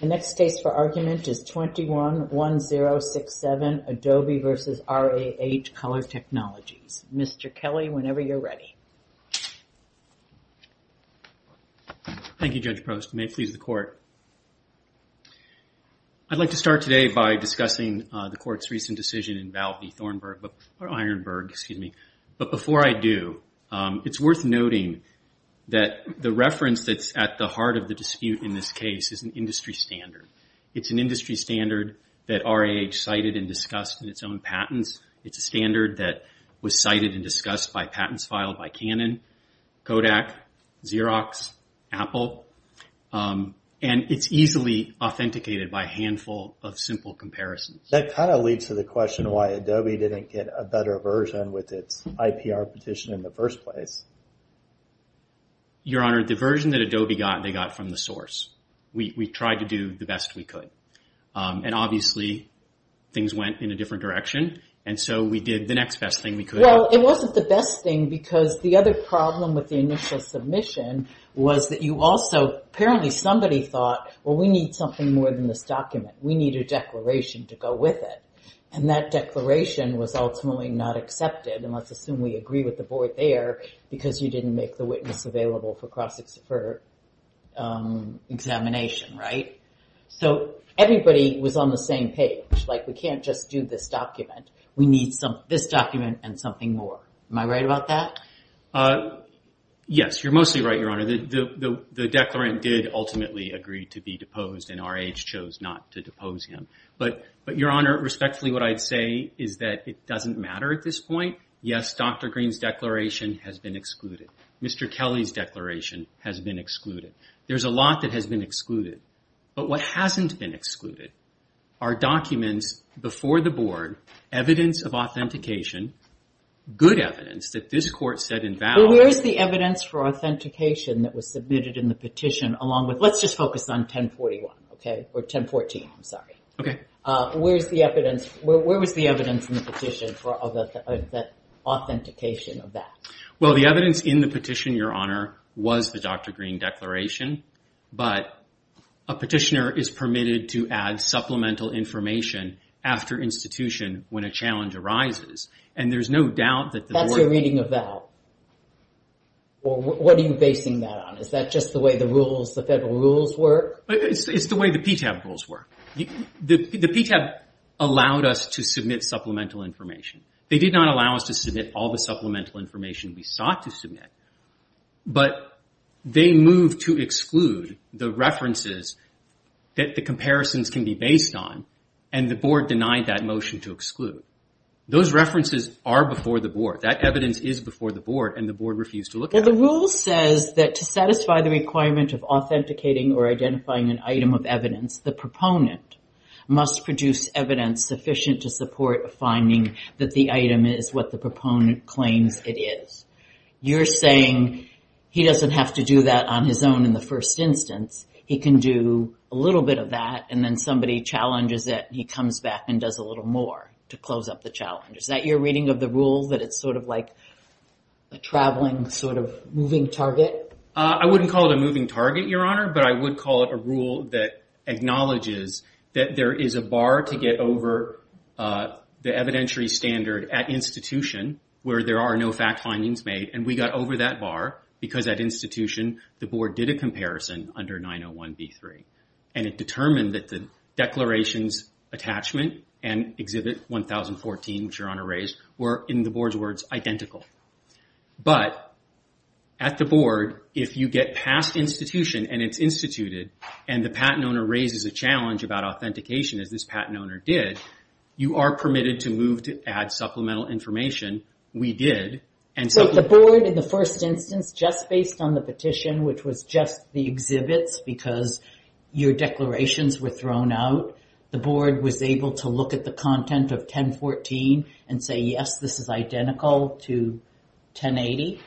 The next case for argument is 21-1067, Adobe v. RAH Color Technologies. Mr. Kelly, whenever you're ready. Thank you, Judge Post. May it please the Court. I'd like to start today by discussing the Court's recent decision in Ironburg, but before I do, it's worth noting that the reference that's at the heart of the dispute in this case is an industry standard. It's an industry standard that RAH cited and discussed in its own patents. It's a standard that was cited and discussed by patents filed by Canon, Kodak, Xerox, Apple, and it's easily authenticated by a handful of simple comparisons. That kind of leads to the question why Adobe didn't get a better version with its IPR petition in the first place. Your Honor, the version that Adobe got, they got from the source. We tried to do the best we could, and obviously things went in a different direction, and so we did the next best thing we could. Well, it wasn't the best thing because the other problem with the initial submission was that you also, apparently somebody thought, well, we need something more than this document. We need a declaration to go with it, and that declaration was ultimately not accepted, and let's assume we agree with the board there because you didn't make the witness available for cross-examination, right? Everybody was on the same page. We can't just do this document. We need this document and something more. Am I right about that? Yes, you're mostly right, Your Honor. The declarant did ultimately agree to be deposed and R.H. chose not to depose him, but, Your Honor, respectfully what I'd say is that it doesn't matter at this point. Yes, Dr. Green's declaration has been excluded. Mr. Kelly's declaration has been excluded. There's a lot that has been excluded, but what hasn't been excluded are documents before the board, evidence of authentication, good evidence that this court said in value- Well, where's the evidence for authentication that was submitted in the petition along with Let's just focus on 1041, okay, or 1014, I'm sorry. Where was the evidence in the petition for the authentication of that? Well, the evidence in the petition, Your Honor, was the Dr. Green declaration, but a petitioner is permitted to add supplemental information after institution when a challenge arises, and there's no doubt that the board- That's your reading of that. What are you basing that on? Is that just the way the rules, the federal rules work? It's the way the PTAB rules work. The PTAB allowed us to submit supplemental information. They did not allow us to submit all the supplemental information we sought to submit, but they moved to exclude the references that the comparisons can be based on, and the board denied that motion to exclude. Those references are before the board. That evidence is before the board, and the board refused to look at it. The rule says that to satisfy the requirement of authenticating or identifying an item of evidence, the proponent must produce evidence sufficient to support a finding that the item is what the proponent claims it is. You're saying he doesn't have to do that on his own in the first instance. He can do a little bit of that, and then somebody challenges it, and he comes back and does a little more to close up the challenge. Is that your reading of the rule, that it's sort of like a traveling, sort of moving target? I wouldn't call it a moving target, Your Honor, but I would call it a rule that acknowledges that there is a bar to get over the evidentiary standard at institution where there are no fact findings made, and we got over that bar because at institution, the board did a comparison under 901B3, and it determined that the declarations attachment and Exhibit 1014, which Your Honor raised, were, in the board's words, identical. But at the board, if you get past institution, and it's instituted, and the patent owner raises a challenge about authentication, as this patent owner did, you are permitted to move to add supplemental information. We did, and so the board in the first instance, just based on the petition, which was just the exhibits because your declarations were thrown out, the board was able to look at the content of 1014 and say, yes, this is identical to 1080.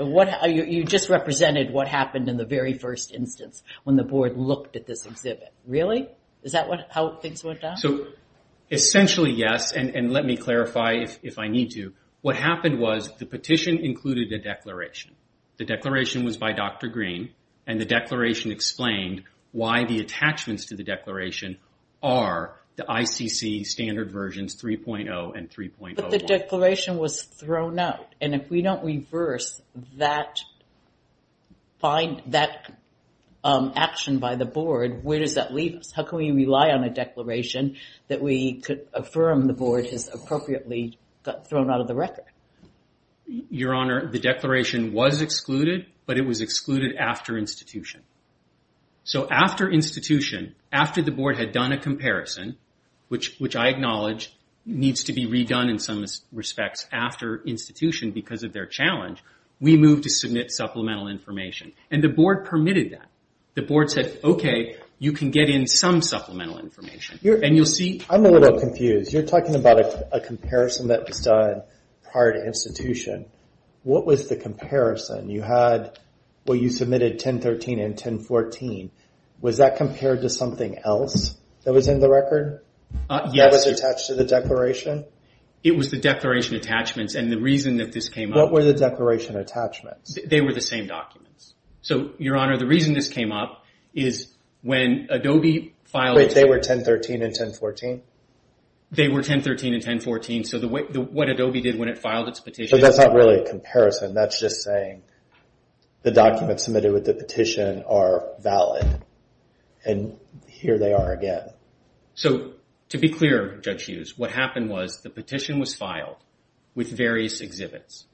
You just represented what happened in the very first instance when the board looked at this exhibit. Really? Is that how things went down? Essentially, yes, and let me clarify if I need to. What happened was the petition included a declaration. The declaration was by Dr. Green, and the declaration explained why the versions 3.0 and 3.01. But the declaration was thrown out, and if we don't reverse that, find that action by the board, where does that leave us? How can we rely on a declaration that we could affirm the board has appropriately got thrown out of the record? Your Honor, the declaration was excluded, but it was excluded after institution. So I acknowledge it needs to be redone in some respects after institution because of their challenge. We moved to submit supplemental information, and the board permitted that. The board said, okay, you can get in some supplemental information, and you'll see... I'm a little confused. You're talking about a comparison that was done prior to institution. What was the comparison? You submitted 1013 and 1014. Was that compared to something else that was in the record? Yes. That was attached to the declaration? It was the declaration attachments, and the reason that this came up... What were the declaration attachments? They were the same documents. So, Your Honor, the reason this came up is when Adobe filed... Wait, they were 1013 and 1014? They were 1013 and 1014, so what Adobe did when it filed its petition... So that's not really a comparison. That's just saying the documents submitted with the petition are valid, and here they are again. So, to be clear, Judge Hughes, what happened was the petition was filed with various exhibits.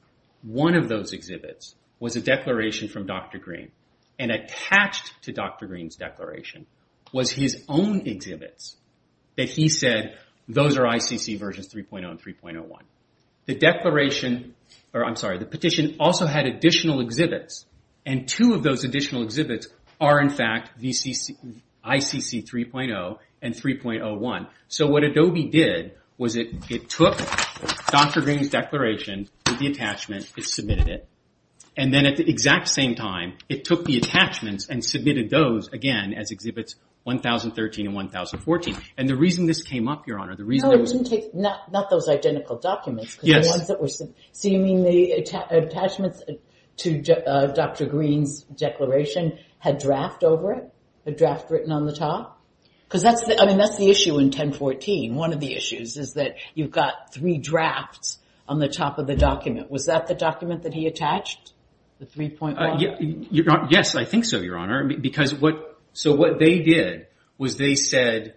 One of those exhibits was a declaration from Dr. Green, and attached to Dr. Green's declaration was his own exhibits that he said, those are ICC versions 3.0 and 3.01. The petition also had additional exhibits, and two of those additional exhibits are, in fact, ICC 3.0 and 3.01. So, what Adobe did was it took Dr. Green's declaration with the attachment and submitted it, and then at the exact same time, it took the attachments and submitted those again as exhibits 1013 and 1014. The reason this came up, Your Honor, the reason... Not those identical documents, because the ones that were... So, you mean the attachments to Dr. Green's declaration had draft over it, a draft written on the top? Because that's the issue in 1014. One of the issues is that you've got three drafts on the top of the document. Was that the document that he attached, the 3.1? Yes, I think so, Your Honor. So, what they did was they said,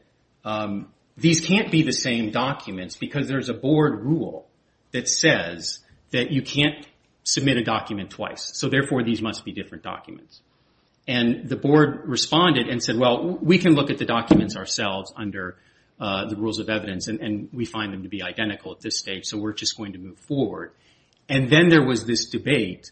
these can't be the same documents, because there's a board rule that says that you can't submit a document twice, so therefore these must be different documents. The board responded and said, well, we can look at the documents ourselves under the rules of evidence, and we find them to be identical at this stage, so we're just going to move forward. Then there was this debate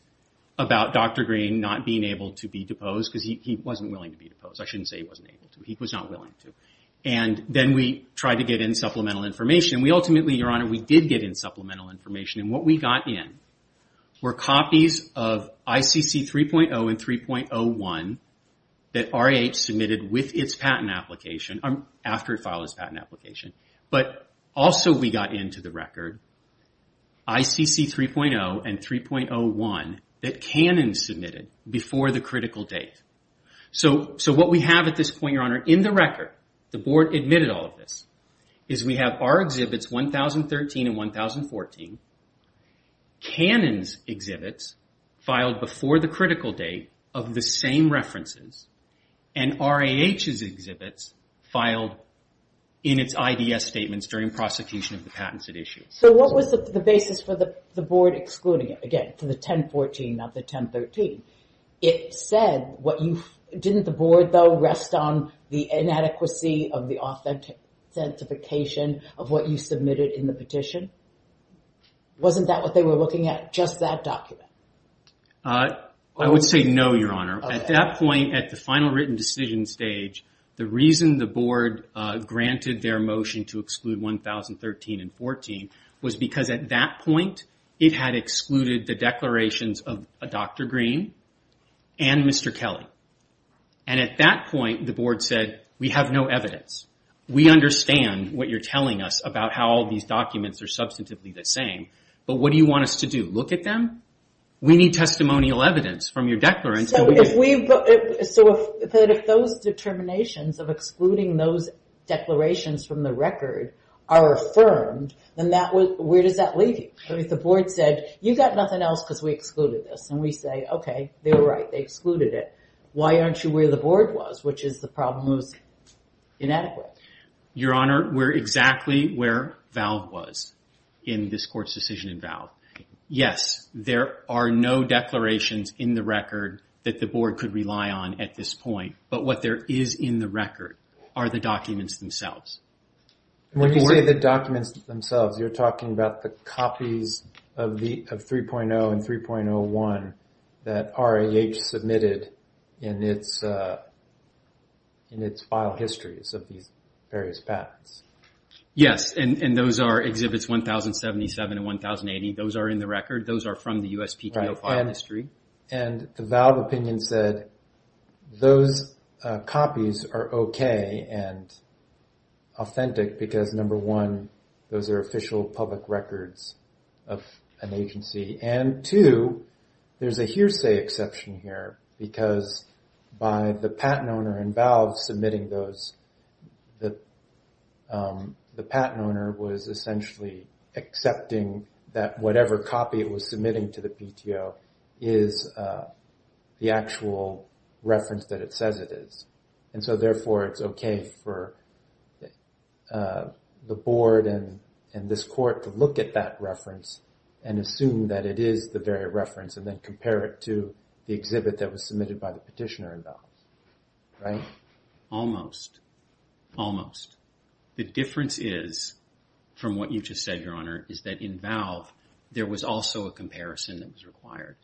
about Dr. Green not being able to be deposed, because he wasn't willing to be deposed. I shouldn't say he wasn't able to. He was not willing to. Then we tried to get in supplemental information. Ultimately, Your Honor, we did get in supplemental information, and what we got in were copies of ICC 3.0 and 3.01 that RAH submitted with its patent application, after it filed its patent application. Also, we got into the record ICC 3.0 and 3.01 that Canon submitted before the critical date. So what we have at this point, Your Honor, in the record, the board admitted all of this, is we have our exhibits, 2013 and 2014. Canon's exhibits filed before the critical date of the same references, and RAH's exhibits filed in its IDS statements during prosecution of the patents at issue. So what was the basis for the board excluding it? Again, for the 1014, not the 1013. It said what you... Didn't the board, though, rest on the inadequacy of the authentication of what you submitted in the petition? Wasn't that what they were looking at, just that document? I would say no, Your Honor. At that point, at the final written decision stage, the reason the board granted their motion to exclude 1013 and 1014 was because at that point, it had excluded the declarations of Dr. Green and Mr. Kelly. At that point, the board said, we have no evidence. We understand what you're telling us about how all these documents are substantively the same, but what do you want us to do? Look at them? We need testimonial evidence from your declarants. So if those determinations of excluding those declarations from the record are affirmed, then where does that leave you? If the board said, you got nothing else because we excluded this, and we say, okay, they were right. They excluded it. Why aren't you where the board was, which is the problem was inadequate? Your Honor, we're exactly where Valve was in this court's decision in Valve. Yes, there are no declarations in the record that the board could rely on at this point, but what there is in the record are the documents themselves. When you say the documents themselves, you're talking about the copies of 3.0 and 3.01 that RAH submitted in its file histories of these various patents. Yes, and those are exhibits 1077 and 1080. Those are in the record. Those are from the USPTO file history. The Valve opinion said those copies are okay and authentic because, number one, those are official public records of an agency, and two, there's a hearsay exception here because by the patent owner in Valve submitting those, the patent owner was essentially accepting that whatever copy it was submitting to the PTO is the actual reference that it says it is. Therefore, it's okay for the board and this court to look at that reference and assume that it is the very reference and then compare it to the exhibit that was submitted by the petitioner in Valve. Almost. Almost. The difference is, from what you just said, Your Honor, is that in Valve there was also a comparison that was required.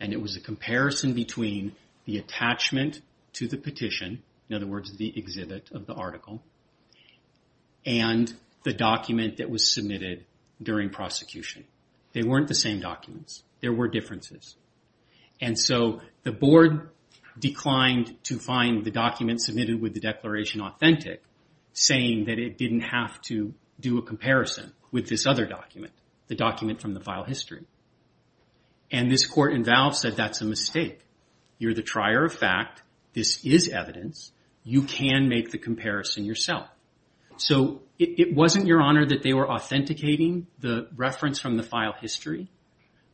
It was a comparison between the attachment to the petition, in other words, the exhibit of the article, and the document that was submitted during prosecution. They weren't the same documents. There were differences. The board declined to find the document submitted with the declaration authentic, saying that it didn't have to do a comparison with this other document, the document from the file history. This court in Valve said, that's a mistake. You're the trier of fact. This is evidence. You can make the comparison yourself. It wasn't, Your Honor, that they were authenticating the reference from the file history.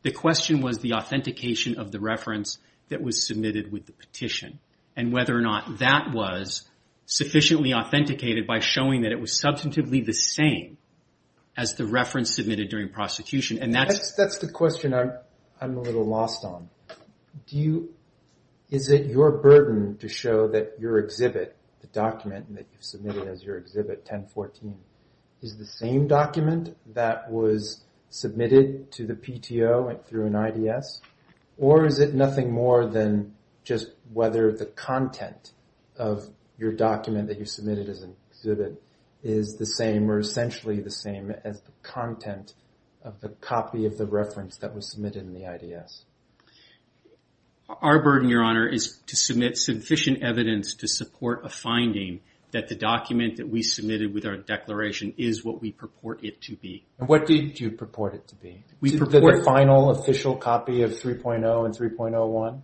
The question was the authentication of the reference that was submitted with the petition and whether or not that was sufficiently authenticated by showing that it was substantively the same as the reference submitted during prosecution. That's the question I'm a little lost on. Is it your burden to show that your exhibit, the document that you submitted as your exhibit, 1014, is the same document that was submitted to the PTO through an IDS? Or is it nothing more than just whether the content of your document that you submitted as an exhibit is the same or essentially the same as the content of the copy of the reference that was submitted in the IDS? Our burden, Your Honor, is to submit sufficient evidence to support a finding that the document that we submitted with our declaration is what we purport it to be. What do you purport it to be? Is it the final official copy of 3.0 and 3.01?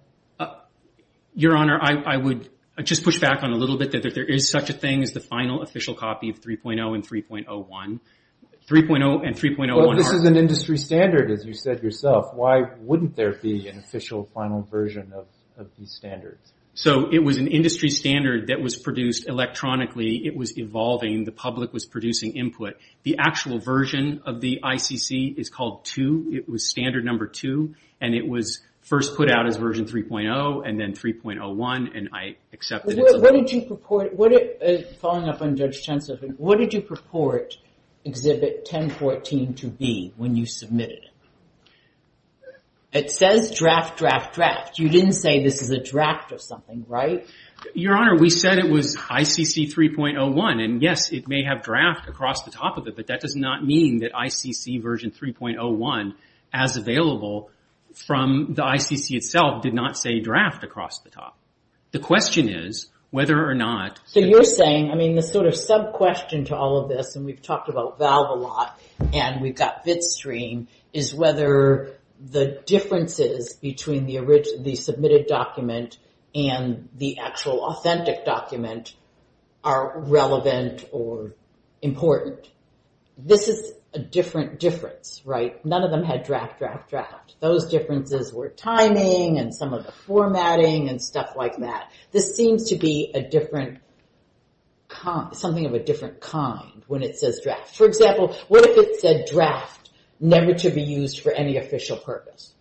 Your Honor, I would just push back on a little bit that there is such a thing as the final official copy of 3.0 and 3.01. This is an industry standard, as you said yourself. Why wouldn't there be an official final version of these standards? It was an industry standard that was produced electronically. It was evolving. The public was producing input. The actual version of the ICC is called 2. It was standard number 2. It was first put out as version 3.0 and then 3.01. I accepted it as a version 3.0. What did you purport exhibit 1014 to be when you submitted it? It says draft, draft, draft. You didn't say this is a draft of something, right? Your Honor, we said it was ICC 3.01. Yes, it may have draft across the top of it, but that does not mean that ICC version 3.01, as available from the ICC itself, did not say draft across the top. The question is whether or not... You're saying, the sub-question to all of this, and we've talked about VALV a lot and we've got Bitstream, is whether the differences between the submitted document and the actual authentic document are relevant or important. This is a different difference, right? None of them had draft, draft, draft. Those differences were timing and some of the formatting and stuff like that. This seems to be something of a different kind when it says draft. For example, what if it said draft never to be used for any official purpose?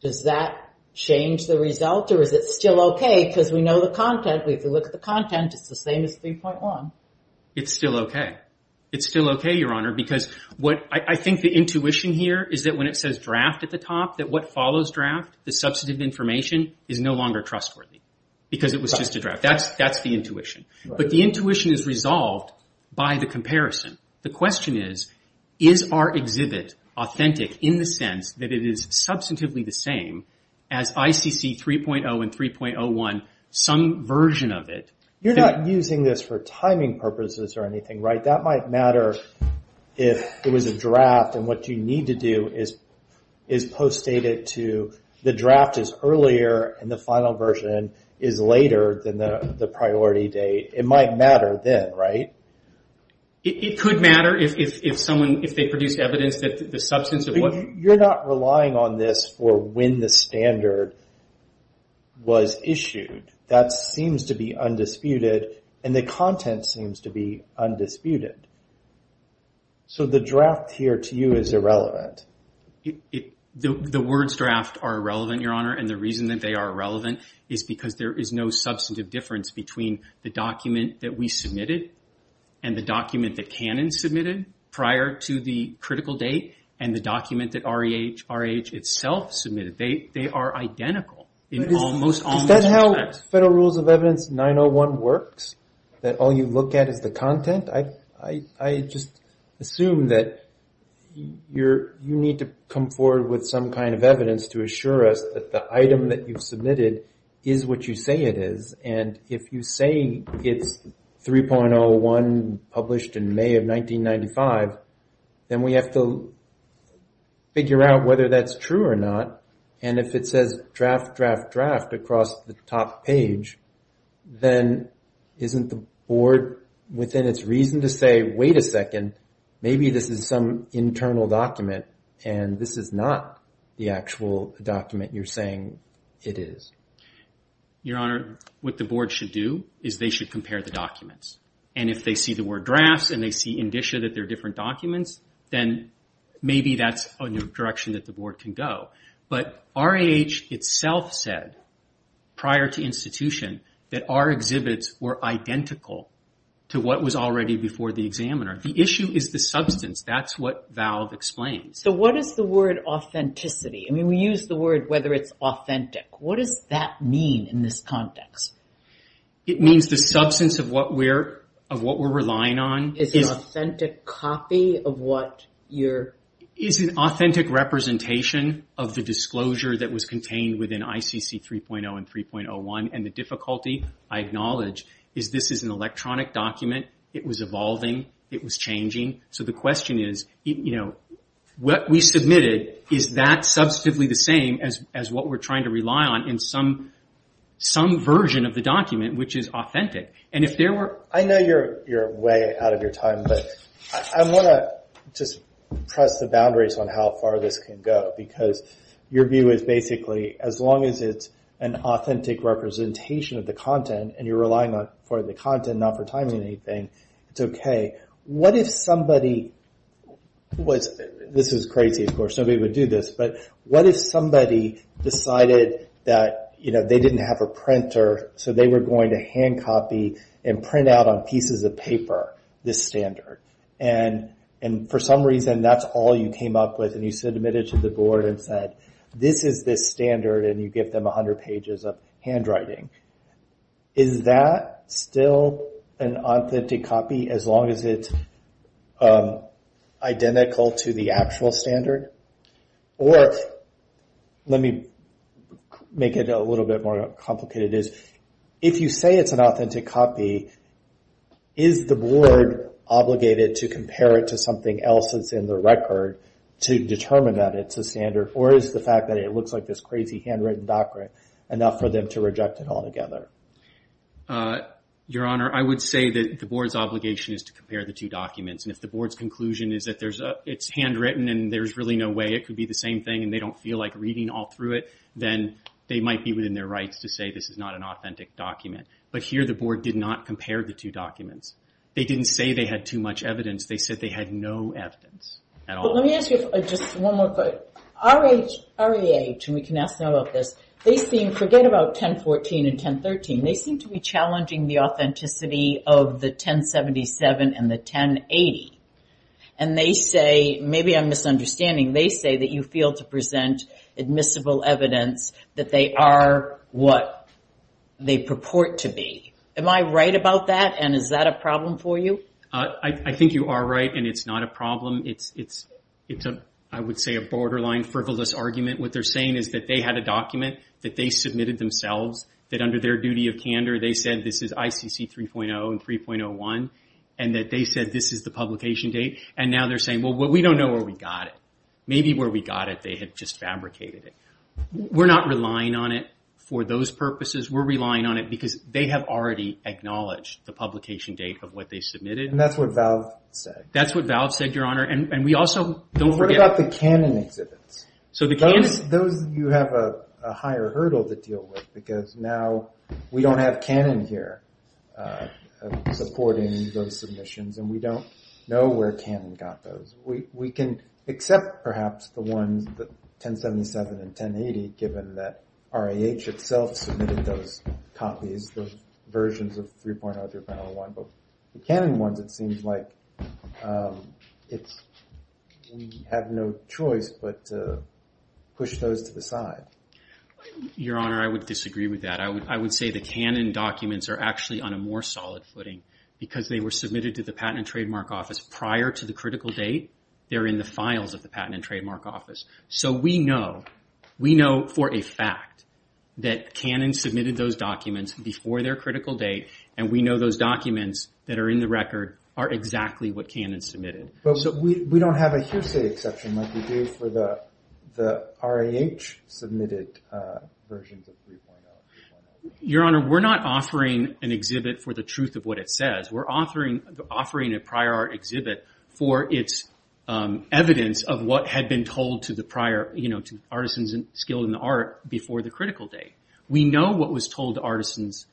Does that make sense? We know the content. If we look at the content, it's the same as 3.1. It's still okay. It's still okay, Your Honor, because I think the intuition here is that when it says draft at the top, that what follows draft, the substantive information, is no longer trustworthy because it was just a draft. That's the intuition. The intuition is resolved by the comparison. The question is, is our exhibit authentic in the sense that it is some version of it? You're not using this for timing purposes or anything, right? That might matter if it was a draft and what you need to do is post-date it to the draft is earlier and the final version is later than the priority date. It might matter then, right? It could matter if they produce evidence that the substance of what... You're not relying on this for when the standard was issued. That seems to be undisputed and the content seems to be undisputed. The draft here to you is irrelevant. The words draft are irrelevant, Your Honor, and the reason that they are irrelevant is because there is no substantive difference between the document that we submitted and the document that Canon submitted prior to the critical date and the document that REH itself submitted. They are identical in almost all respects. Is that how Federal Rules of Evidence 901 works? That all you look at is the content? I just assume that you need to come forward with some kind of evidence to assure us that the item that you've submitted is what you say it is. If you say it's 3.01.1.1.1.1.1.1.1.1.1.1.1. published in May of 1995, then we have to figure out whether that's true or not. And if it says draft, draft, draft across the top page, then isn't the Board within its reason to say, wait a second, maybe this is some internal document and this is not the actual document you're saying it is? Your Honor, what the Board should do is they see the word drafts and they see indicia that they're different documents, then maybe that's a new direction that the Board can go. But REH itself said prior to institution that our exhibits were identical to what was already before the examiner. The issue is the substance. That's what Valve explains. What is the word authenticity? We use the word whether it's authentic. What does that mean in this context? It means the substance of what we're relying on is an authentic representation of the disclosure that was contained within ICC 3.0 and 3.01. And the difficulty, I acknowledge, is this is an electronic document. It was evolving. It was changing. So the question is, what we submitted, is that substantively the same as what we're trying to rely on in some version of the document which is authentic? I know you're way out of your time, but I want to just press the boundaries on how far this can go because your view is basically as long as it's an authentic representation of the content and you're relying on for the content, not for timing anything, it's okay. What if somebody, this is crazy of course, nobody would do this, but what if somebody decided that they didn't have a printer so they were going to hand copy and print out on pieces of paper this standard? And for some reason that's all you came up with and you submitted to the board and said, this is this standard and you give them 100 pages of handwriting. Is that still an authentic copy as long as it's identical to the actual standard? Or let me make it a little bit more complicated. If you say it's an authentic copy, is the board obligated to compare it to something else that's in the record to determine that it's a standard or is the fact that it looks like this crazy handwritten document enough for them to reject it altogether? Your Honor, I would say that the board's obligation is to compare the two documents. And if the board's conclusion is that it's handwritten and there's really no way it could be the same thing and they don't feel like reading all through it, then they might be within their rights to say this is not an authentic document. But here the board did not compare the two documents. They didn't say they had too much evidence. They said they had no evidence at all. Let me ask you just one more question. REH, and we can ask them about this, they seem to forget about 1014 and 1013. They seem to be challenging the authenticity of the 1077 and the 1080. And they say, maybe I'm misunderstanding, they say that you fail to present admissible evidence that they are what they purport to be. Am I right about that and is that a problem for you? I think you are right and it's not a problem. It's, I would say, a borderline frivolous argument. What they're saying is that they had a document that they submitted themselves that under their duty of candor they said this is ICC 3.0 and 3.01 and that they said this is the publication date. And now they're saying, well, we don't know where we got it. Maybe where we got it they had just fabricated it. We're not relying on it for those purposes. We're relying on it because they have already acknowledged the publication date of what they submitted. And that's what Valve said. That's what Valve said, Your Honor. And we also don't forget... What about the Canon exhibits? So the Canon... Those you have a higher hurdle to deal with because now we don't have Canon here supporting those submissions and we don't know where Canon got those. We can accept perhaps the ones, the 1077 and 1080, given that RAH itself submitted those copies, those versions of 3.0 through 3.01. But the Canon ones, it seems like we have no choice but to push those to the side. Your Honor, I would disagree with that. I would say the Canon documents are actually on a more solid footing because they were submitted to the Patent and Trademark Office prior to the critical date. They're in the files of the Patent and Trademark Office. So we know, we know for a fact that Canon submitted those documents before their critical date, and we know those documents that are in the record are exactly what Canon submitted. So we don't have a hearsay exception like we do for the RAH submitted versions of 3.0 or 3.01? Your Honor, we're not offering an exhibit for the truth of what it says. We're offering a prior art exhibit for its evidence of what had been told to the prior, to artisans skilled in the art before the critical date. We know what was told to artisans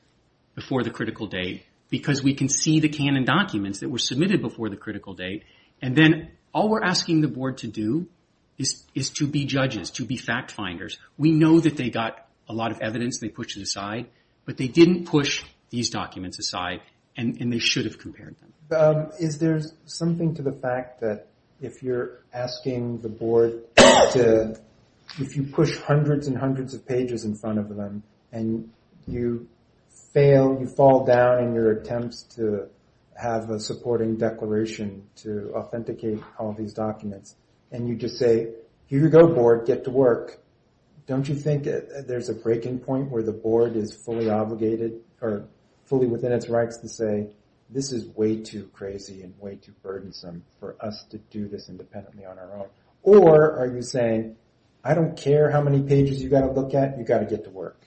before the critical date because we can see the Canon documents that were submitted before the critical date. And then all we're asking the Board to do is to be judges, to be fact finders. We know that they got a lot of evidence and they pushed it aside, but they didn't push these documents aside and they should have compared them. Is there something to the fact that if you're asking the Board to, if you push hundreds and hundreds of pages in front of them, and you fail, you fall down in your attempts to have a supporting declaration to authenticate all these documents, and you just say, here you go Board, get to work, don't you think there's a breaking point where the Board is way too crazy and way too burdensome for us to do this independently on our own? Or are you saying, I don't care how many pages you've got to look at, you've got to get to work?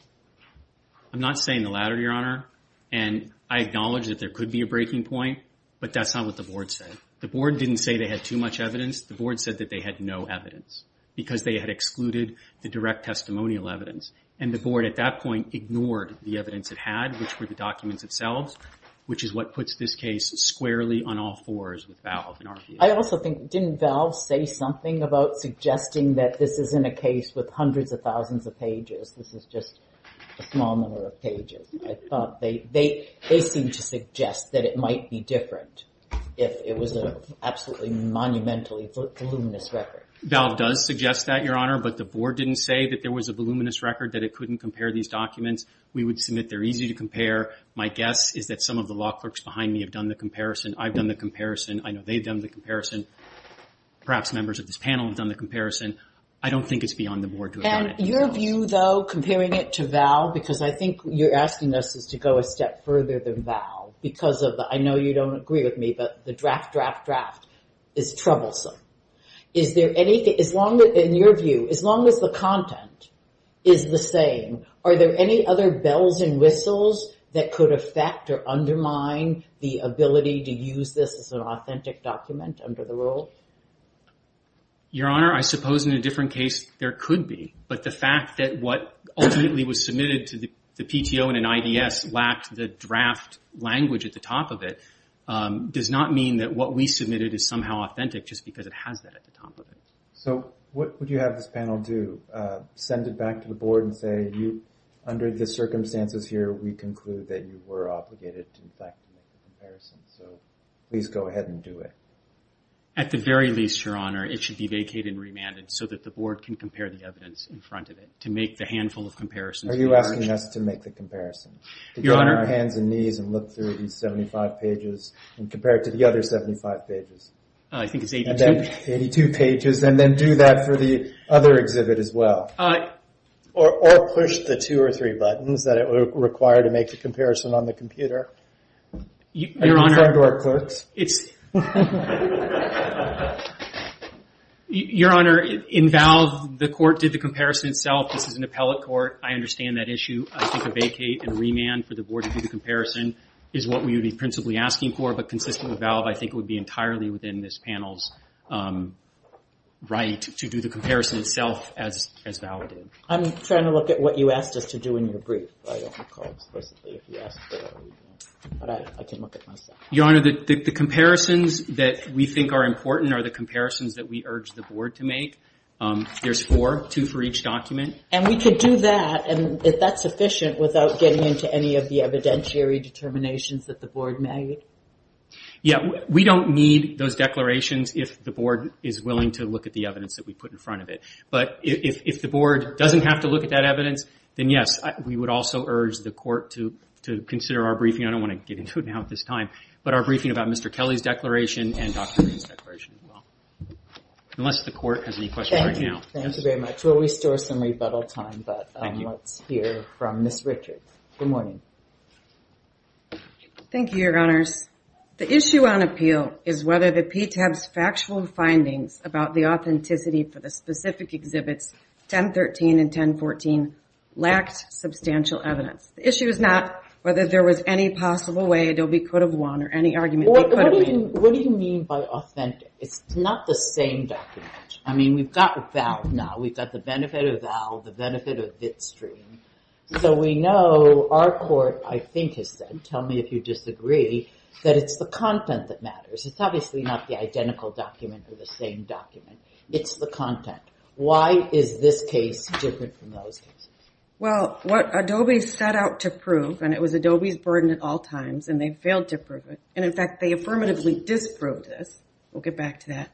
I'm not saying the latter, Your Honor. And I acknowledge that there could be a breaking point, but that's not what the Board said. The Board didn't say they had too much evidence. The Board said that they had no evidence because they had excluded the direct testimonial evidence. And the Board at that point ignored the evidence it had, which were the documents themselves, which is what puts this case squarely on all fours with Valve in our view. I also think, didn't Valve say something about suggesting that this isn't a case with hundreds of thousands of pages, this is just a small number of pages? They seemed to suggest that it might be different if it was an absolutely monumentally voluminous record. Valve does suggest that, Your Honor, but the Board didn't say that there was a voluminous record, that it couldn't compare these documents. We would submit they're easy to compare. My guess is that some of the law clerks behind me have done the comparison. I've done the comparison. I know they've done the comparison. Perhaps members of this panel have done the comparison. I don't think it's beyond the Board to have done it. Your view, though, comparing it to Valve, because I think you're asking us to go a step further than Valve because of the, I know you don't agree with me, but the draft, draft, draft is troublesome. Is there anything, in your view, as long as the content is the same, are there any other bells and whistles that could affect or undermine the ability to use this as an authentic document under the rule? Your Honor, I suppose in a different case there could be, but the fact that what ultimately was submitted to the PTO and an IDS lacked the draft language at the top of it does not mean that what we submitted is somehow authentic just because it has that at the top of it. So what would you have this panel do? Send it back to the Board and say, under the circumstances here we conclude that you were obligated to, in fact, make the comparison. So please go ahead and do it. At the very least, Your Honor, it should be vacated and remanded so that the Board can compare the evidence in front of it to make the handful of comparisons. Are you asking us to make the comparison, to get on our hands and knees and look through these 75 pages and compare it to the other 75 pages? I think it's 82. 82 pages, and then do that for the other exhibit as well? Or push the two or three buttons that it would require to make the comparison on the computer? Your Honor, in valve, the Court did the comparison itself. This is an appellate court. I understand that issue. I think a vacate and remand for the Board to do the comparison is what we would be principally asking for, but consistent with valve, I think it would be entirely within this panel's right to do the comparison itself as valid. I'm trying to look at what you asked us to do in your brief, but I don't recall explicitly if you asked for that. But I can look at myself. Your Honor, the comparisons that we think are important are the comparisons that we urge the Board to make. There's four, two for each document. And we could do that, and if that's sufficient, without getting into any of the evidentiary determinations that the Board made? Yes. We don't need those declarations if the Board is willing to look at the evidence that we put in front of it. But if the Board doesn't have to look at that evidence, then yes, we would also urge the Court to consider our briefing. I don't want to get into it now at this time, but our briefing about Mr. Kelly's declaration and Dr. Green's declaration as well. Unless the Court has any questions right now. Thank you very much. We'll restore some rebuttal time, but let's hear from Ms. Richards. Good morning. Good morning. Thank you, Your Honors. The issue on appeal is whether the PTAB's factual findings about the authenticity for the specific exhibits, 1013 and 1014, lacked substantial evidence. The issue is not whether there was any possible way Adobe could have won or any argument they could have made. What do you mean by authentic? It's not the same document. I mean, we've got VAL now. We've got the benefit of VAL, the benefit of Bitstream. So we know our Court, I think, has said, tell me if you disagree, that it's the content that matters. It's obviously not the identical document or the same document. It's the content. Why is this case different from those cases? Well, what Adobe set out to prove, and it was Adobe's burden at all times, and they failed to prove it. And in fact, they affirmatively disproved this. We'll get back to that.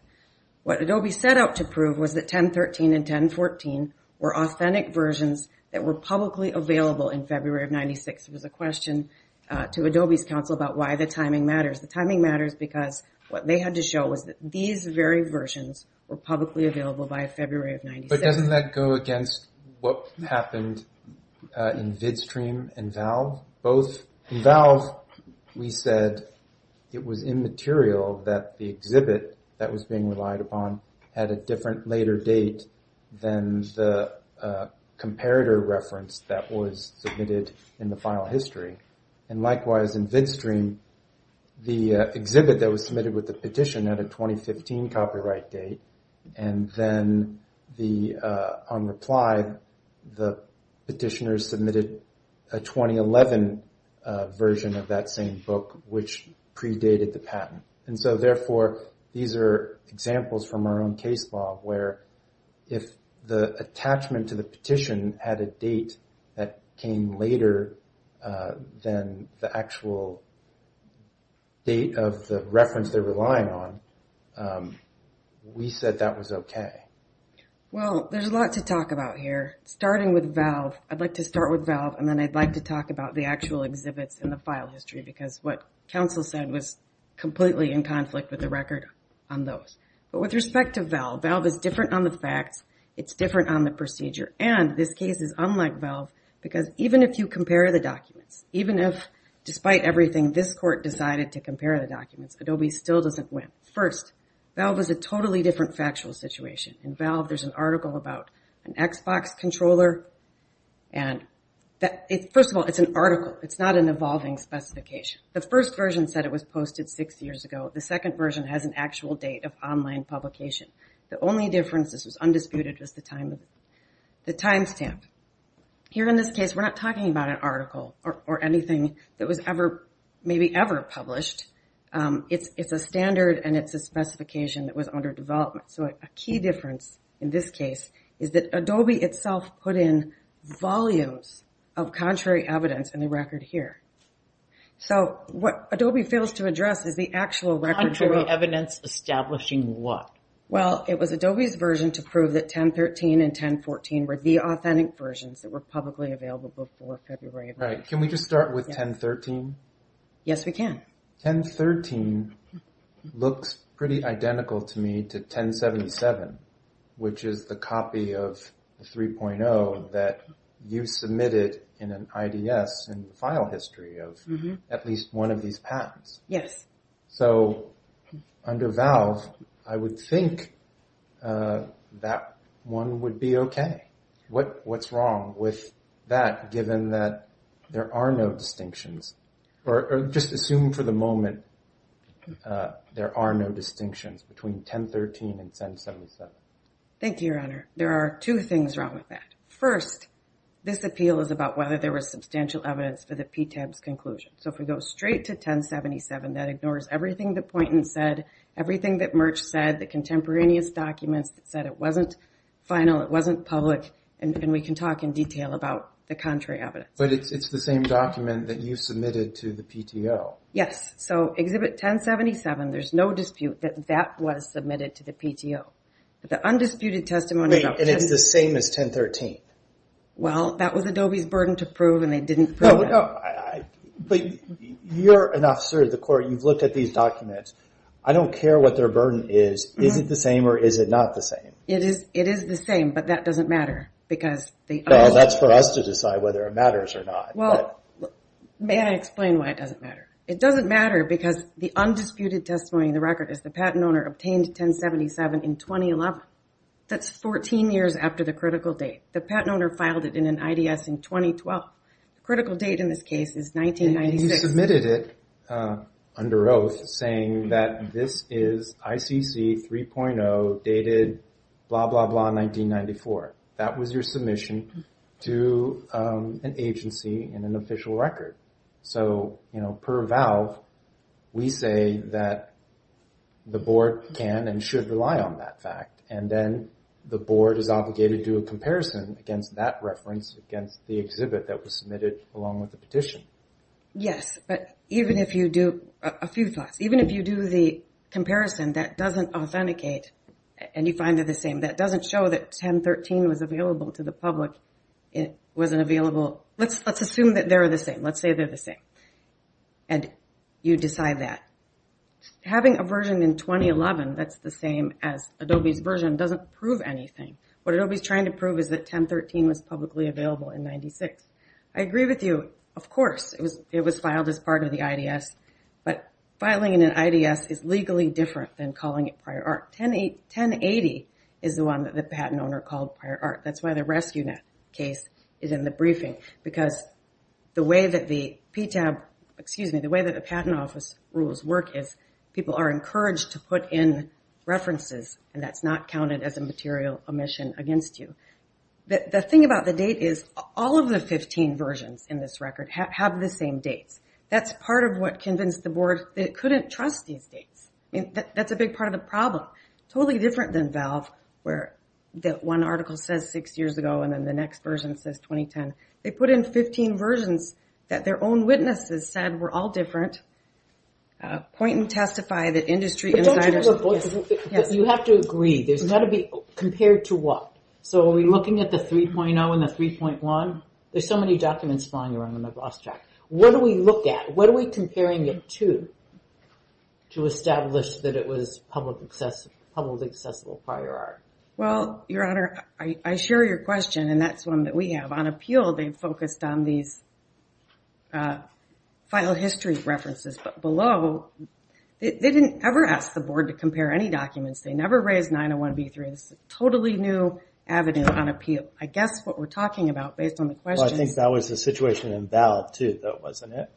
What 1013 and 1014 were authentic versions that were publicly available in February of 1996. There was a question to Adobe's counsel about why the timing matters. The timing matters because what they had to show was that these very versions were publicly available by February of 1996. But doesn't that go against what happened in Bitstream and VAL? In VAL, we said it was the same version of 1013 and 1014, and then the comparator reference that was submitted in the final history. And likewise, in Bitstream, the exhibit that was submitted with the petition had a 2015 copyright date, and then on reply, the petitioner submitted a 2011 version of that same book, which predated the patent. And so therefore, these are examples from our own case law, where if the attachment to the petition had a date that came later than the actual date of the reference they're relying on, we said that was okay. Well, there's a lot to talk about here, starting with VAL. I'd like to start with VAL, and then I'd like to talk about the actual exhibits in the file history, because what counsel said was completely in conflict with the record on those. But with respect to VAL, VAL is different on the facts, it's different on the procedure, and this case is unlike VAL, because even if you compare the documents, even if, despite everything, this court decided to compare the documents, Adobe still doesn't win. First, VAL was a totally different factual situation. In VAL, there's an article about an Xbox controller, and first of all, it's an article. It's not an evolving specification. The first version said it was posted six years ago. The second version has an actual date of online publication. The only difference, this was undisputed, was the timestamp. Here in this case, we're not talking about an article or anything that was ever, maybe ever published. It's a standard, and it's a specification that was under development. So a key difference in this case is that Adobe itself put in volumes of contrary evidence in the record here. So what Adobe fails to address is the actual record. Contrary evidence establishing what? Well, it was Adobe's version to prove that 1013 and 1014 were the authentic versions that were publicly available before February of last year. Right. Can we just start with 1013? Yes, we can. 1013 looks pretty identical to me to 1077, which is the copy of the 3.0 that you submitted in an IDS in the file history of at least one of these patents. Yes. So under Valve, I would think that one would be okay. What's wrong with that, given that there are no distinctions? Or just assume for the moment there are no distinctions between 1013 and 1077? Thank you, Your Honor. There are two things wrong with that. First, this appeal is about whether there was substantial evidence for the PTAB's conclusion. So if we go straight to 1077, that ignores everything that Poynton said, everything that Merck said, the contemporaneous documents that said it wasn't final, it wasn't public, and we can talk in detail about the contrary evidence. But it's the same document that you submitted to the PTO. Yes. So Exhibit 1077, there's no dispute that that was submitted to the PTO. But the undisputed testimony... Wait, and it's the same as 1013? Well, that was Adobe's burden to prove, and they didn't prove that. But you're an officer of the court. You've looked at these documents. I don't care what their burden is. Is it the same, or is it not the same? It is the same, but that doesn't matter because... Well, that's for us to decide whether it matters or not. May I explain why it doesn't matter? It doesn't matter because the undisputed testimony in the record is the patent owner obtained 1077 in 2011. That's 14 years after the critical date. The patent owner filed it in an IDS in 2012. The critical date in this case is 1996. You submitted it under oath saying that this is ICC 3.0 dated blah, blah, blah, 1994. That was your submission to an agency and an official record. So, you know, per valve, we say that the board can and should rely on that fact. And then the board is obligated to do a comparison against that reference, against the exhibit that was submitted along with the petition. Yes, but even if you do... A few thoughts. Even if you do the comparison, that doesn't authenticate and you find it the same. That doesn't show that 1013 was available to the public. It wasn't available... Let's assume that they're the same. Let's say they're the same, and you decide that. Having a version in 2011 that's the same as Adobe's version doesn't prove anything. What Adobe's trying to prove is that 1013 was publicly available in 96. I agree with you, of course, it was filed as part of the IDS, but filing in an IDS is legally different than calling it prior art. 1080 is the one that the patent owner called prior art. That's why the Rescue Net case is in the briefing because the way that the patent office rules work is people are encouraged to put in references, and that's not counted as a material omission against you. The thing about the date is all of the 15 versions in this record have the same dates. That's part of what convinced the board that it couldn't trust these dates. That's a big part of the problem. Totally different than Valve where one article says six years ago and then the next version says 2010. They put in 15 versions that their own witnesses said were all different. Point and testify that industry insiders... You have to agree. There's got to be... Compared to what? Are we looking at the 3.0 and the 3.1? There's so many documents flying around on the boss track. What do we look at? What are we comparing it to to establish that it was publicly accessible prior art? Well, Your Honor, I share your question, and that's one that we have. On appeal, they've focused on these file history references, but below, they didn't ever ask the board to compare any documents. They never raised 901B3. This is a totally new avenue on appeal. I guess what we're talking about based on the questions... I think that was the situation in Valve, too, though, wasn't it?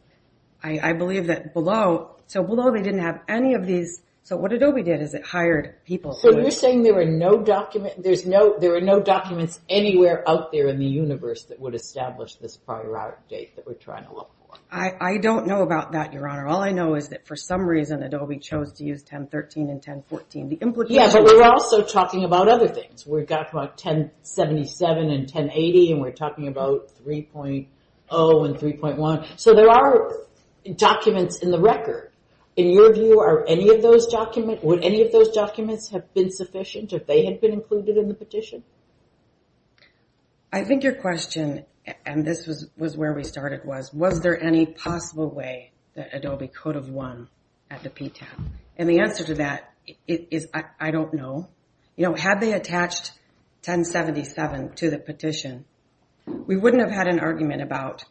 I believe that below... Below, they didn't have any of these... What Adobe did is it hired people... So you're saying there were no document... There were no documents anywhere out there in the universe that would establish this prior art date that we're trying to look for. I don't know about that, Your Honor. All I know is that for some reason, Adobe chose to use 1013 and 1014. The implication... Yeah, but we're also talking about other things. We're talking about 1077 and 1080, and we're talking about 3.0 and 3.1. So there are documents in the record. In your view, are any of those documents... been sufficient if they had been included in the petition? I think your question, and this was where we started, was, was there any possible way that Adobe could have won at the PTAP? And the answer to that is I don't know. Had they attached 1077 to the petition, we wouldn't have had an argument about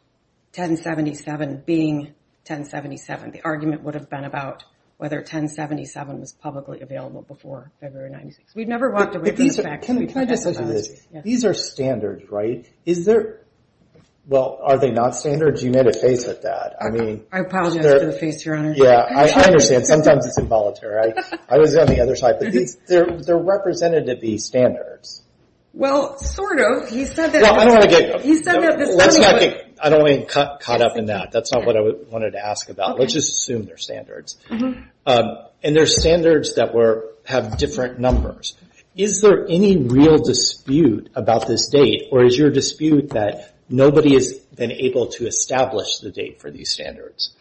1077 being 1077. The argument would have been about whether 1077 was publicly available before February 1996. We've never walked away from the fact that we've had 1076. These are standards, right? Well, are they not standards? You made a face at that. I apologize for the face, Your Honor. I understand. Sometimes it's involuntary. I was on the other side. But they're representative-y standards. Well, sort of. He said that... I don't want to get caught up in that. That's not what I wanted to ask about. Let's just assume they're standards. And they're standards that have different numbers. Is there any real dispute about this date, or is your dispute that nobody has been able to establish the date for these standards?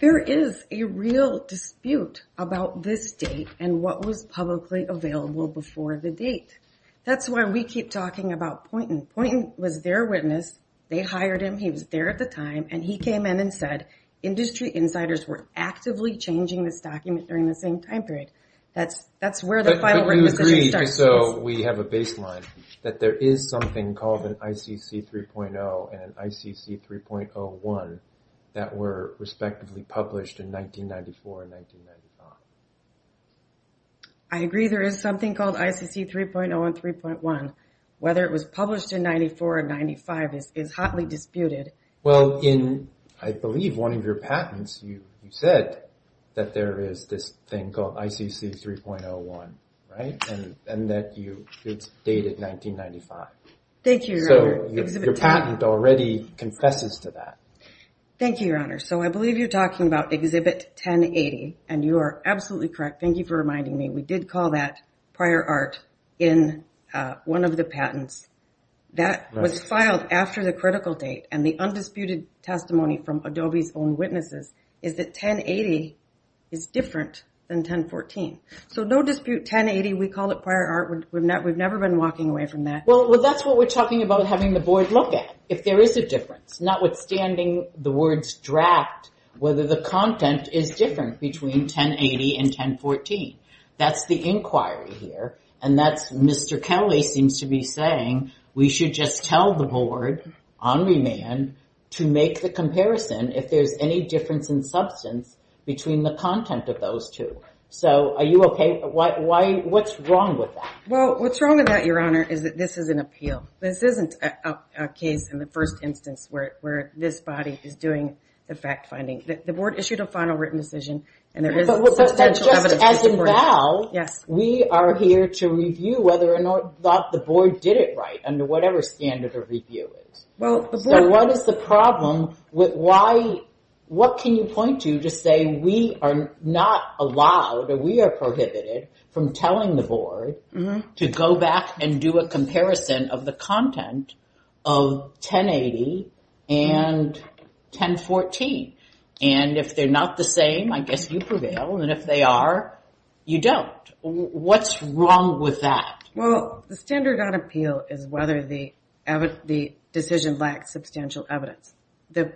There is a real dispute about this date and what was publicly available before the date. That's why we keep talking about Poynton. Poynton was their witness. They hired him. He was there at the time, and he came in and said, Industry insiders were actively changing this document during the same time period. That's where the final written decision starts. But we agree, so we have a baseline, that there is something called an ICC 3.0 and an ICC 3.01 that were respectively published in 1994 and 1995. I agree there is something called ICC 3.0 and 3.1. Whether it was published in 94 or 95 is hotly disputed. Well, in, I believe, one of your patents, you said that there is this thing called ICC 3.01, right, and that it's dated 1995. Thank you, Your Honor. Your patent already confesses to that. Thank you, Your Honor. So I believe you're talking about Exhibit 1080, and you are absolutely correct. We did call that prior art in one of the patents. That was filed after the critical date, and the undisputed testimony from Adobe's own witnesses is that 1080 is different than 1014. So no dispute, 1080, we call it prior art. We've never been walking away from that. Well, that's what we're talking about having the board look at, if there is a difference, notwithstanding the words draft, whether the content is different between 1080 and 1014. That's the inquiry here, and that's Mr. Kelly seems to be saying we should just tell the board on remand to make the comparison if there's any difference in substance between the content of those two. So are you okay? What's wrong with that? Well, what's wrong with that, Your Honor, is that this is an appeal. This isn't a case in the first instance where this body is doing the fact-finding. The board issued a final written decision, and there is substantial evidence to support it. Well, we are here to review whether or not the board did it right under whatever standard of review it is. So what is the problem with why, what can you point to to say we are not allowed or we are prohibited from telling the board to go back and do a comparison of the content of 1080 and 1014? And if they're not the same, I guess you prevail, and if they are, you don't. What's wrong with that? Well, the standard on appeal is whether the decision lacks substantial evidence. The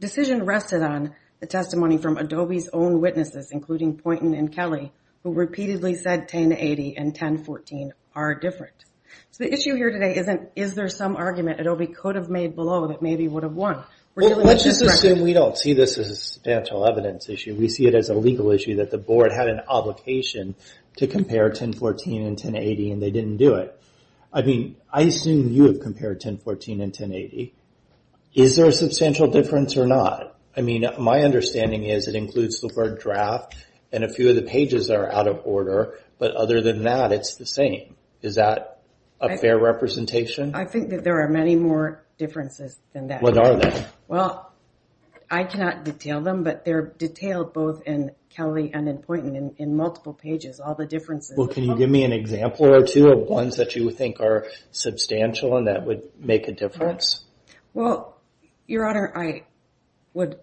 decision rested on the testimony from Adobe's own witnesses, including Poynton and Kelly, who repeatedly said 1080 and 1014 are different. So the issue here today isn't is there some argument Adobe could have made below that maybe would have won. Well, let's just assume we don't see this as a substantial evidence issue. We see it as a legal issue that the board had an obligation to compare 1014 and 1080 and they didn't do it. I mean, I assume you have compared 1014 and 1080. Is there a substantial difference or not? I mean, my understanding is it includes the word draft and a few of the pages are out of order, but other than that, it's the same. Is that a fair representation? I think that there are many more differences than that. What are they? Well, I cannot detail them, but they're detailed both in Kelly and in Poynton in multiple pages, all the differences. Well, can you give me an example or two of ones that you think are substantial and that would make a difference? Well, Your Honor, I would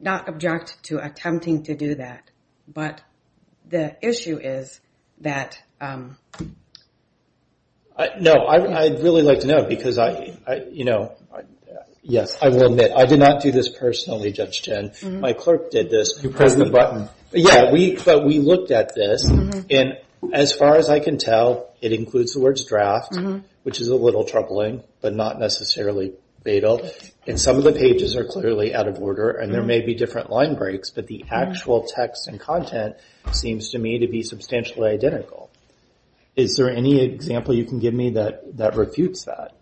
not object to attempting to do that, but the issue is that – No, I'd really like to know because I – yes, I will admit I did not do this personally, Judge Chen. My clerk did this. You pressed the button. Yeah, but we looked at this, and as far as I can tell, it includes the words draft, which is a little troubling but not necessarily fatal, and some of the pages are clearly out of order and there may be different line breaks, but the actual text and content seems to me to be substantially identical. Is there any example you can give me that refutes that?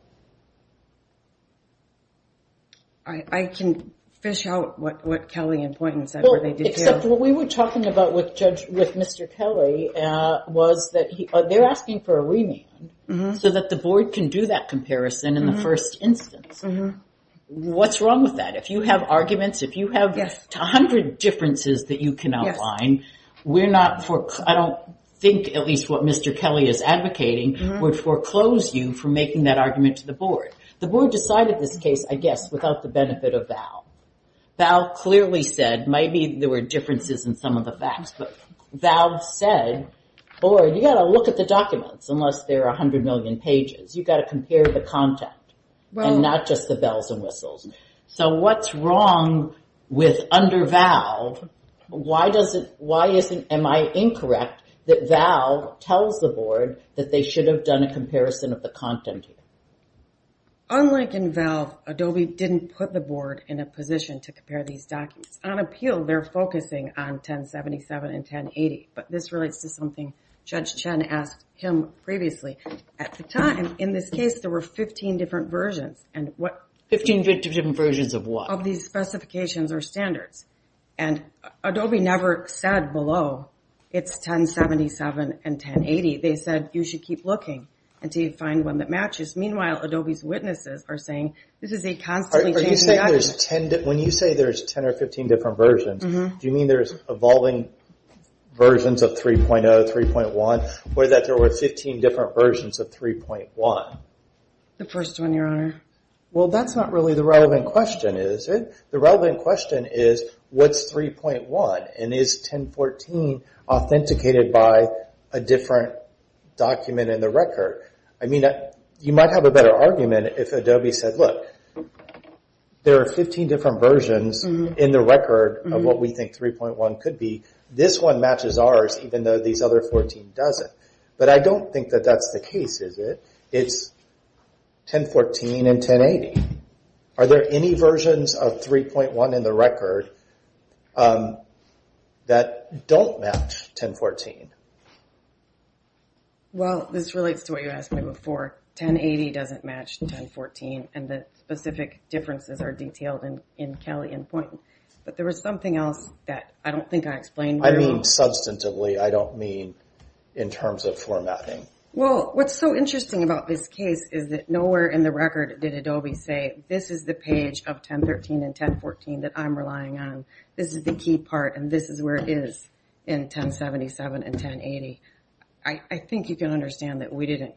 I can fish out what Kelly and Poynton said or they did here. Except what we were talking about with Mr. Kelly was that they're asking for a remand so that the board can do that comparison in the first instance. What's wrong with that? If you have arguments, if you have 100 differences that you can outline, I don't think at least what Mr. Kelly is advocating would foreclose you from making that argument to the board. The board decided this case, I guess, without the benefit of Val. Val clearly said maybe there were differences in some of the facts, but Val said, or you've got to look at the documents unless they're 100 million pages. You've got to compare the content and not just the bells and whistles. So what's wrong with under Val? Why am I incorrect that Val tells the board that they should have done a comparison of the content? Unlike in Val, Adobe didn't put the board in a position to compare these documents. On appeal, they're focusing on 1077 and 1080, but this relates to something Judge Chen asked him previously. At the time, in this case, there were 15 different versions. 15 different versions of what? Of these specifications or standards, and Adobe never said below it's 1077 and 1080. They said you should keep looking until you find one that matches. Meanwhile, Adobe's witnesses are saying this is a constantly changing document. When you say there's 10 or 15 different versions, do you mean there's evolving versions of 3.0, 3.1, or that there were 15 different versions of 3.1? The first one, Your Honor. Well, that's not really the relevant question, is it? The relevant question is what's 3.1, and is 1014 authenticated by a different document in the record? You might have a better argument if Adobe said, look, there are 15 different versions in the record of what we think 3.1 could be. This one matches ours, even though these other 14 doesn't. But I don't think that that's the case, is it? It's 1014 and 1080. Are there any versions of 3.1 in the record that don't match 1014? Well, this relates to what you asked me before. 1080 doesn't match 1014, and the specific differences are detailed in Kelly and Poynton. But there was something else that I don't think I explained very well. I mean, substantively, I don't mean in terms of formatting. Well, what's so interesting about this case is that nowhere in the record did Adobe say, this is the page of 1013 and 1014 that I'm relying on. This is the key part, and this is where it is in 1077 and 1080. I think you can understand that we didn't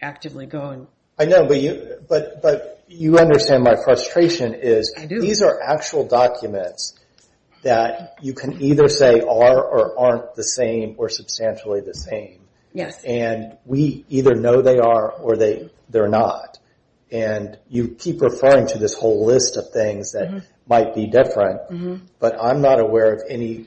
actively go and... I know, but you understand my frustration is these are actual documents that you can either say are or aren't the same or substantially the same. Yes. And we either know they are or they're not. And you keep referring to this whole list of things that might be different, but I'm not aware of any,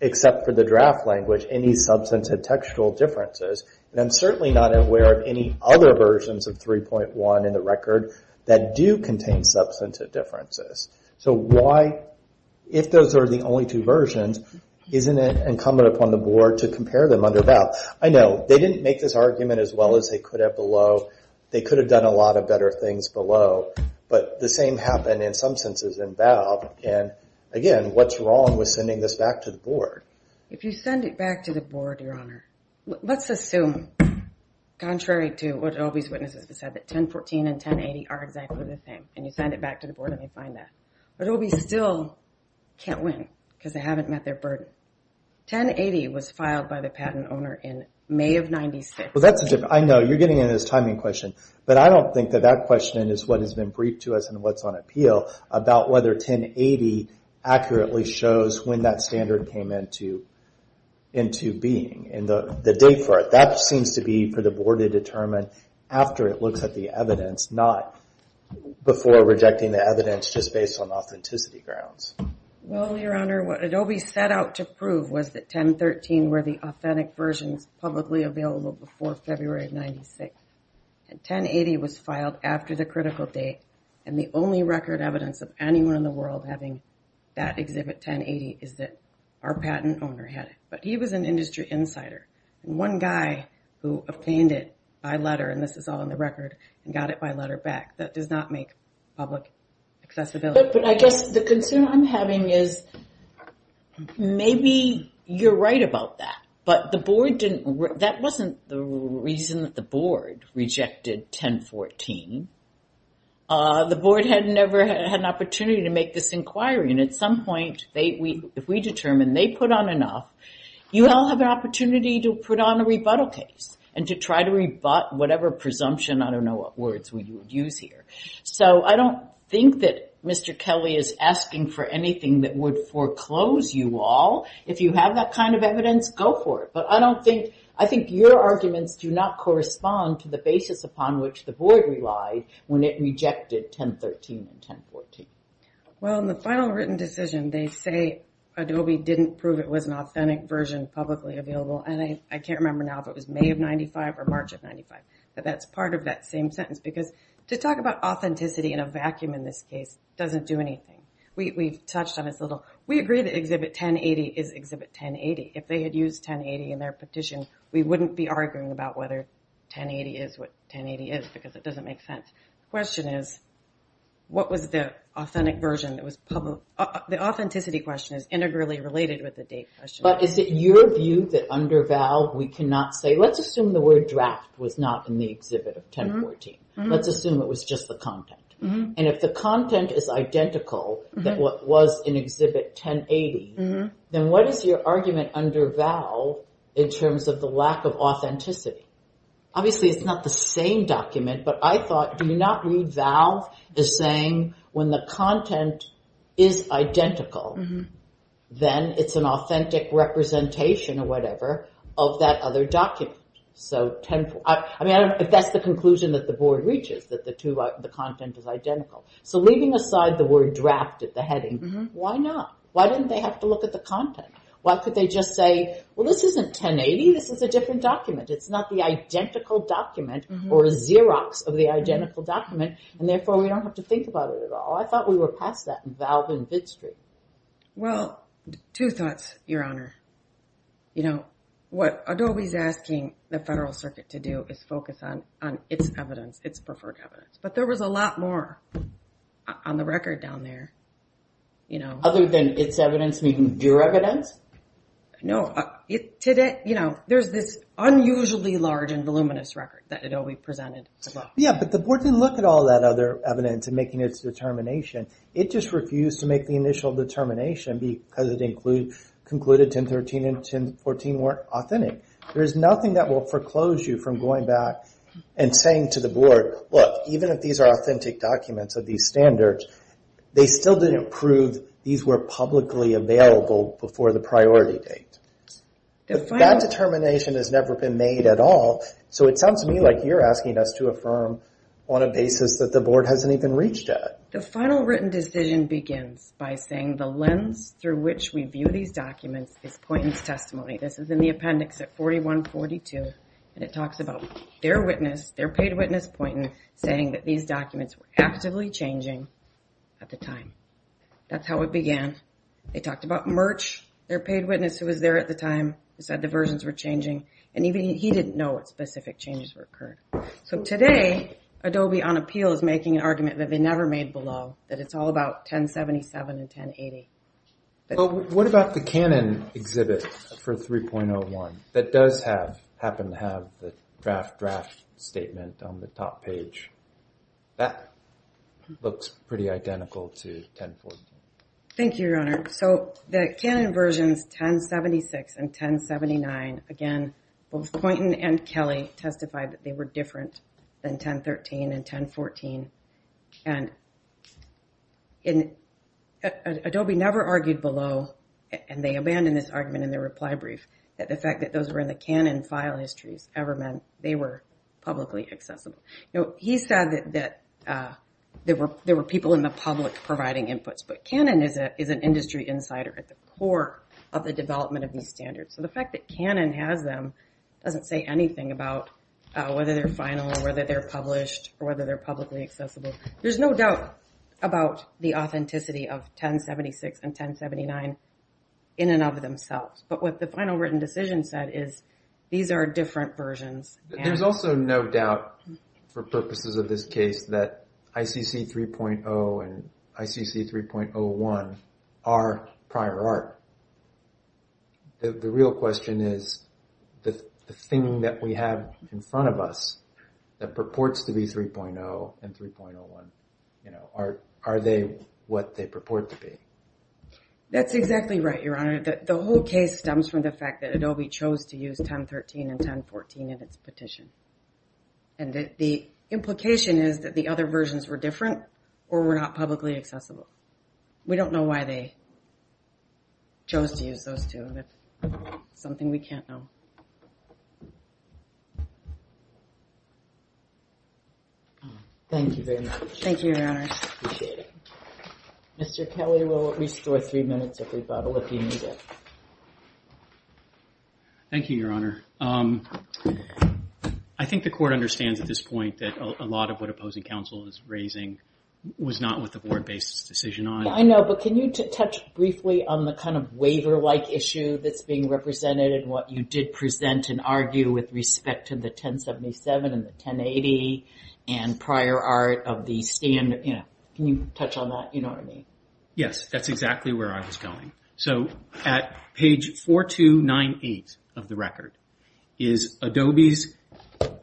except for the draft language, any substantive textual differences. And I'm certainly not aware of any other versions of 3.1 in the record that do contain substantive differences. So why, if those are the only two versions, isn't it incumbent upon the board to compare them under VAL? I know, they didn't make this argument as well as they could have below. They could have done a lot of better things below, but the same happened in some senses in VAL. And again, what's wrong with sending this back to the board? If you send it back to the board, Your Honor, let's assume, contrary to what Adobe's witnesses have said, that 1014 and 1080 are exactly the same. And you send it back to the board and they find that. Adobe still can't win because they haven't met their burden. 1080 was filed by the patent owner in May of 96. Well, that's a different, I know, you're getting into this timing question, but I don't think that that question is what has been briefed to us and what's on appeal about whether 1080 accurately shows when that standard came into being and the date for it. That seems to be for the board to determine after it looks at the evidence, not before rejecting the evidence just based on authenticity grounds. Well, Your Honor, what Adobe set out to prove was that 1013 were the authentic versions publicly available before February of 96. And 1080 was filed after the critical date, and the only record evidence of anyone in the world having that exhibit, 1080, is that our patent owner had it. But he was an industry insider. One guy who obtained it by letter, and this is all in the record, and got it by letter back. That does not make public accessibility. But I guess the concern I'm having is maybe you're right about that. But the board didn't, that wasn't the reason that the board rejected 1014. The board had never had an opportunity to make this inquiry. And at some point, if we determine they put on enough, you all have an opportunity to put on a rebuttal case and to try to rebut whatever presumption, I don't know what words we would use here. So I don't think that Mr. Kelly is asking for anything that would foreclose you all. If you have that kind of evidence, go for it. But I don't think, I think your arguments do not correspond to the basis upon which the board relied when it rejected 1013 and 1014. Well, in the final written decision, they say Adobe didn't prove it was an authentic version publicly available. And I can't remember now if it was May of 95 or March of 95. But that's part of that same sentence. Because to talk about authenticity in a vacuum in this case doesn't do anything. We've touched on this a little. We agree that Exhibit 1080 is Exhibit 1080. If they had used 1080 in their petition, we wouldn't be arguing about whether 1080 is what 1080 is, because it doesn't make sense. The question is, what was the authentic version that was public? The authenticity question is integrally related with the date question. But is it your view that under Valve we cannot say, let's assume the word draft was not in the Exhibit 1014. Let's assume it was just the content. And if the content is identical than what was in Exhibit 1080, then what is your argument under Valve in terms of the lack of authenticity? Obviously, it's not the same document, but I thought, do you not read Valve as saying when the content is identical, then it's an authentic representation or whatever of that other document. I mean, if that's the conclusion that the board reaches, that the content is identical. So leaving aside the word draft at the heading, why not? Why didn't they have to look at the content? Why could they just say, well, this isn't 1080. This is a different document. It's not the identical document or a Xerox of the identical document, and therefore we don't have to think about it at all. I thought we were past that in Valve and Bitstreet. Well, two thoughts, Your Honor. You know, what Adobe's asking the Federal Circuit to do is focus on its evidence, its preferred evidence. But there was a lot more on the record down there. Other than its evidence and even your evidence? No. There's this unusually large and voluminous record that Adobe presented. Yeah, but the board didn't look at all that other evidence in making its determination. It just refused to make the initial determination because it concluded 1013 and 1014 weren't authentic. There's nothing that will foreclose you from going back and saying to the board, look, even if these are authentic documents of these standards, they still didn't prove these were publicly available before the priority date. That determination has never been made at all, so it sounds to me like you're asking us to affirm on a basis that the board hasn't even reached yet. The final written decision begins by saying the lens through which we view these documents is Poynton's testimony. This is in the appendix at 4142, and it talks about their witness, their paid witness, Poynton, saying that these documents were actively changing at the time. That's how it began. They talked about Merch, their paid witness who was there at the time, who said the versions were changing, and even he didn't know what specific changes were occurring. So today, Adobe on appeal is making an argument that they never made below, that it's all about 1077 and 1080. What about the Canon exhibit for 3.01 that does happen to have the draft draft statement on the top page? That looks pretty identical to 1014. Thank you, Your Honor. So the Canon versions 1076 and 1079, again, both Poynton and Kelly testified that they were different than 1013 and 1014, and Adobe never argued below, and they abandoned this argument in their reply brief, that the fact that those were in the Canon file histories ever meant they were publicly accessible. He said that there were people in the public providing inputs, but Canon is an industry insider at the core of the development of these standards. So the fact that Canon has them doesn't say anything about whether they're final or whether they're published or whether they're publicly accessible. There's no doubt about the authenticity of 1076 and 1079 in and of themselves, but what the final written decision said is these are different versions. There's also no doubt for purposes of this case that ICC 3.0 and ICC 3.01 are prior art. The real question is the thing that we have in front of us that purports to be 3.0 and 3.01, are they what they purport to be? That's exactly right, Your Honor. The whole case stems from the fact that Adobe chose to use 1013 and 1014 in its petition, and the implication is that the other versions were different or were not publicly accessible. We don't know why they chose to use those two. That's something we can't know. Thank you very much. Thank you, Your Honor. Appreciate it. Mr. Kelly will restore three minutes if we bubble, if you need it. Thank you, Your Honor. I think the Court understands at this point that a lot of what opposing counsel is raising was not what the Board based its decision on. I know, but can you touch briefly on the kind of waiver-like issue that's being represented in what you did present and argue with respect to the 1077 and the 1080 and prior art of the stand? Can you touch on that? Yes, that's exactly where I was going. At page 4298 of the record is Adobe's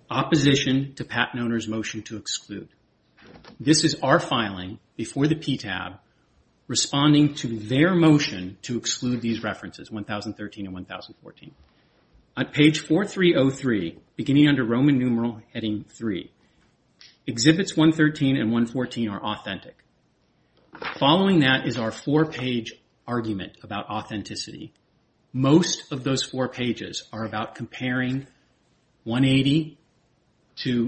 opposition to patent owner's motion to exclude. This is our filing before the PTAB responding to their motion to exclude these references, 1013 and 1014. At page 4303, beginning under Roman numeral heading 3, exhibits 113 and 114 are authentic. Following that is our four-page argument about authenticity. Most of those four pages are about comparing 180 to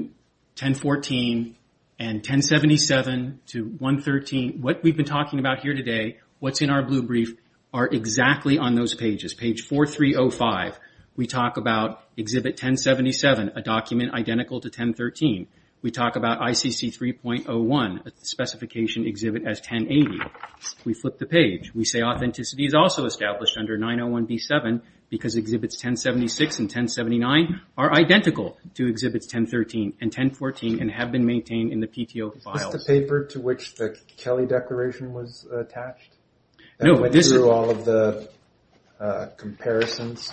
1014 and 1077 to 113. What we've been talking about here today, what's in our blue brief, are exactly on those pages. Page 4305, we talk about exhibit 1077, a document identical to 1013. We talk about ICC 3.01, a specification exhibit as 1080. We flip the page. We say authenticity is also established under 901B7 because exhibits 1076 and 1079 are identical to exhibits 1013 and 1014 and have been maintained in the PTO files. Is this the paper to which the Kelly Declaration was attached? No. It went through all of the comparisons?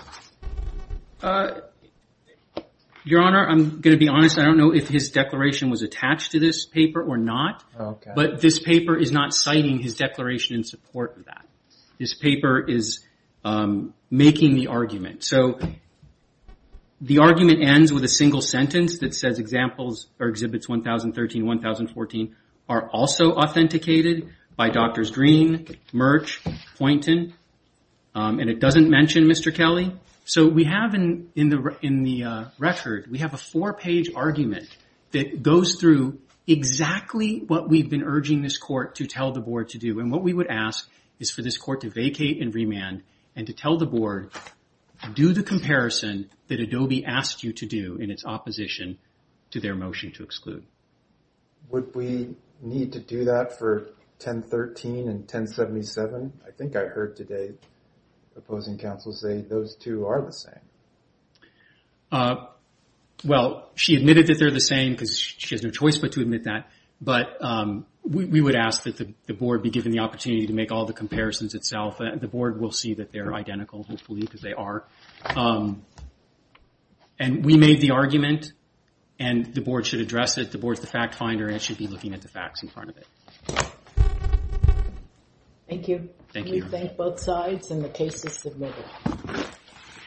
Your Honor, I'm going to be honest. I don't know if his declaration was attached to this paper or not. Okay. But this paper is not citing his declaration in support of that. This paper is making the argument. The argument ends with a single sentence that says exhibits 1013 and 1014 are also authenticated by Drs. Green, Merch, Poynton, and it doesn't mention Mr. Kelly. We have in the record, we have a four-page argument that goes through exactly what we've been urging this court to tell the board to do, and what we would ask is for this court to vacate and remand and to tell the board do the comparison that Adobe asked you to do in its opposition to their motion to exclude. Would we need to do that for 1013 and 1077? I think I heard today opposing counsel say those two are the same. Well, she admitted that they're the same because she has no choice but to admit that, but we would ask that the board be given the opportunity to make all the comparisons itself. The board will see that they're identical, hopefully, because they are. And we made the argument, and the board should address it. The board's the fact finder, and it should be looking at the facts in front of it. Thank you. Thank you. We thank both sides, and the case is submitted.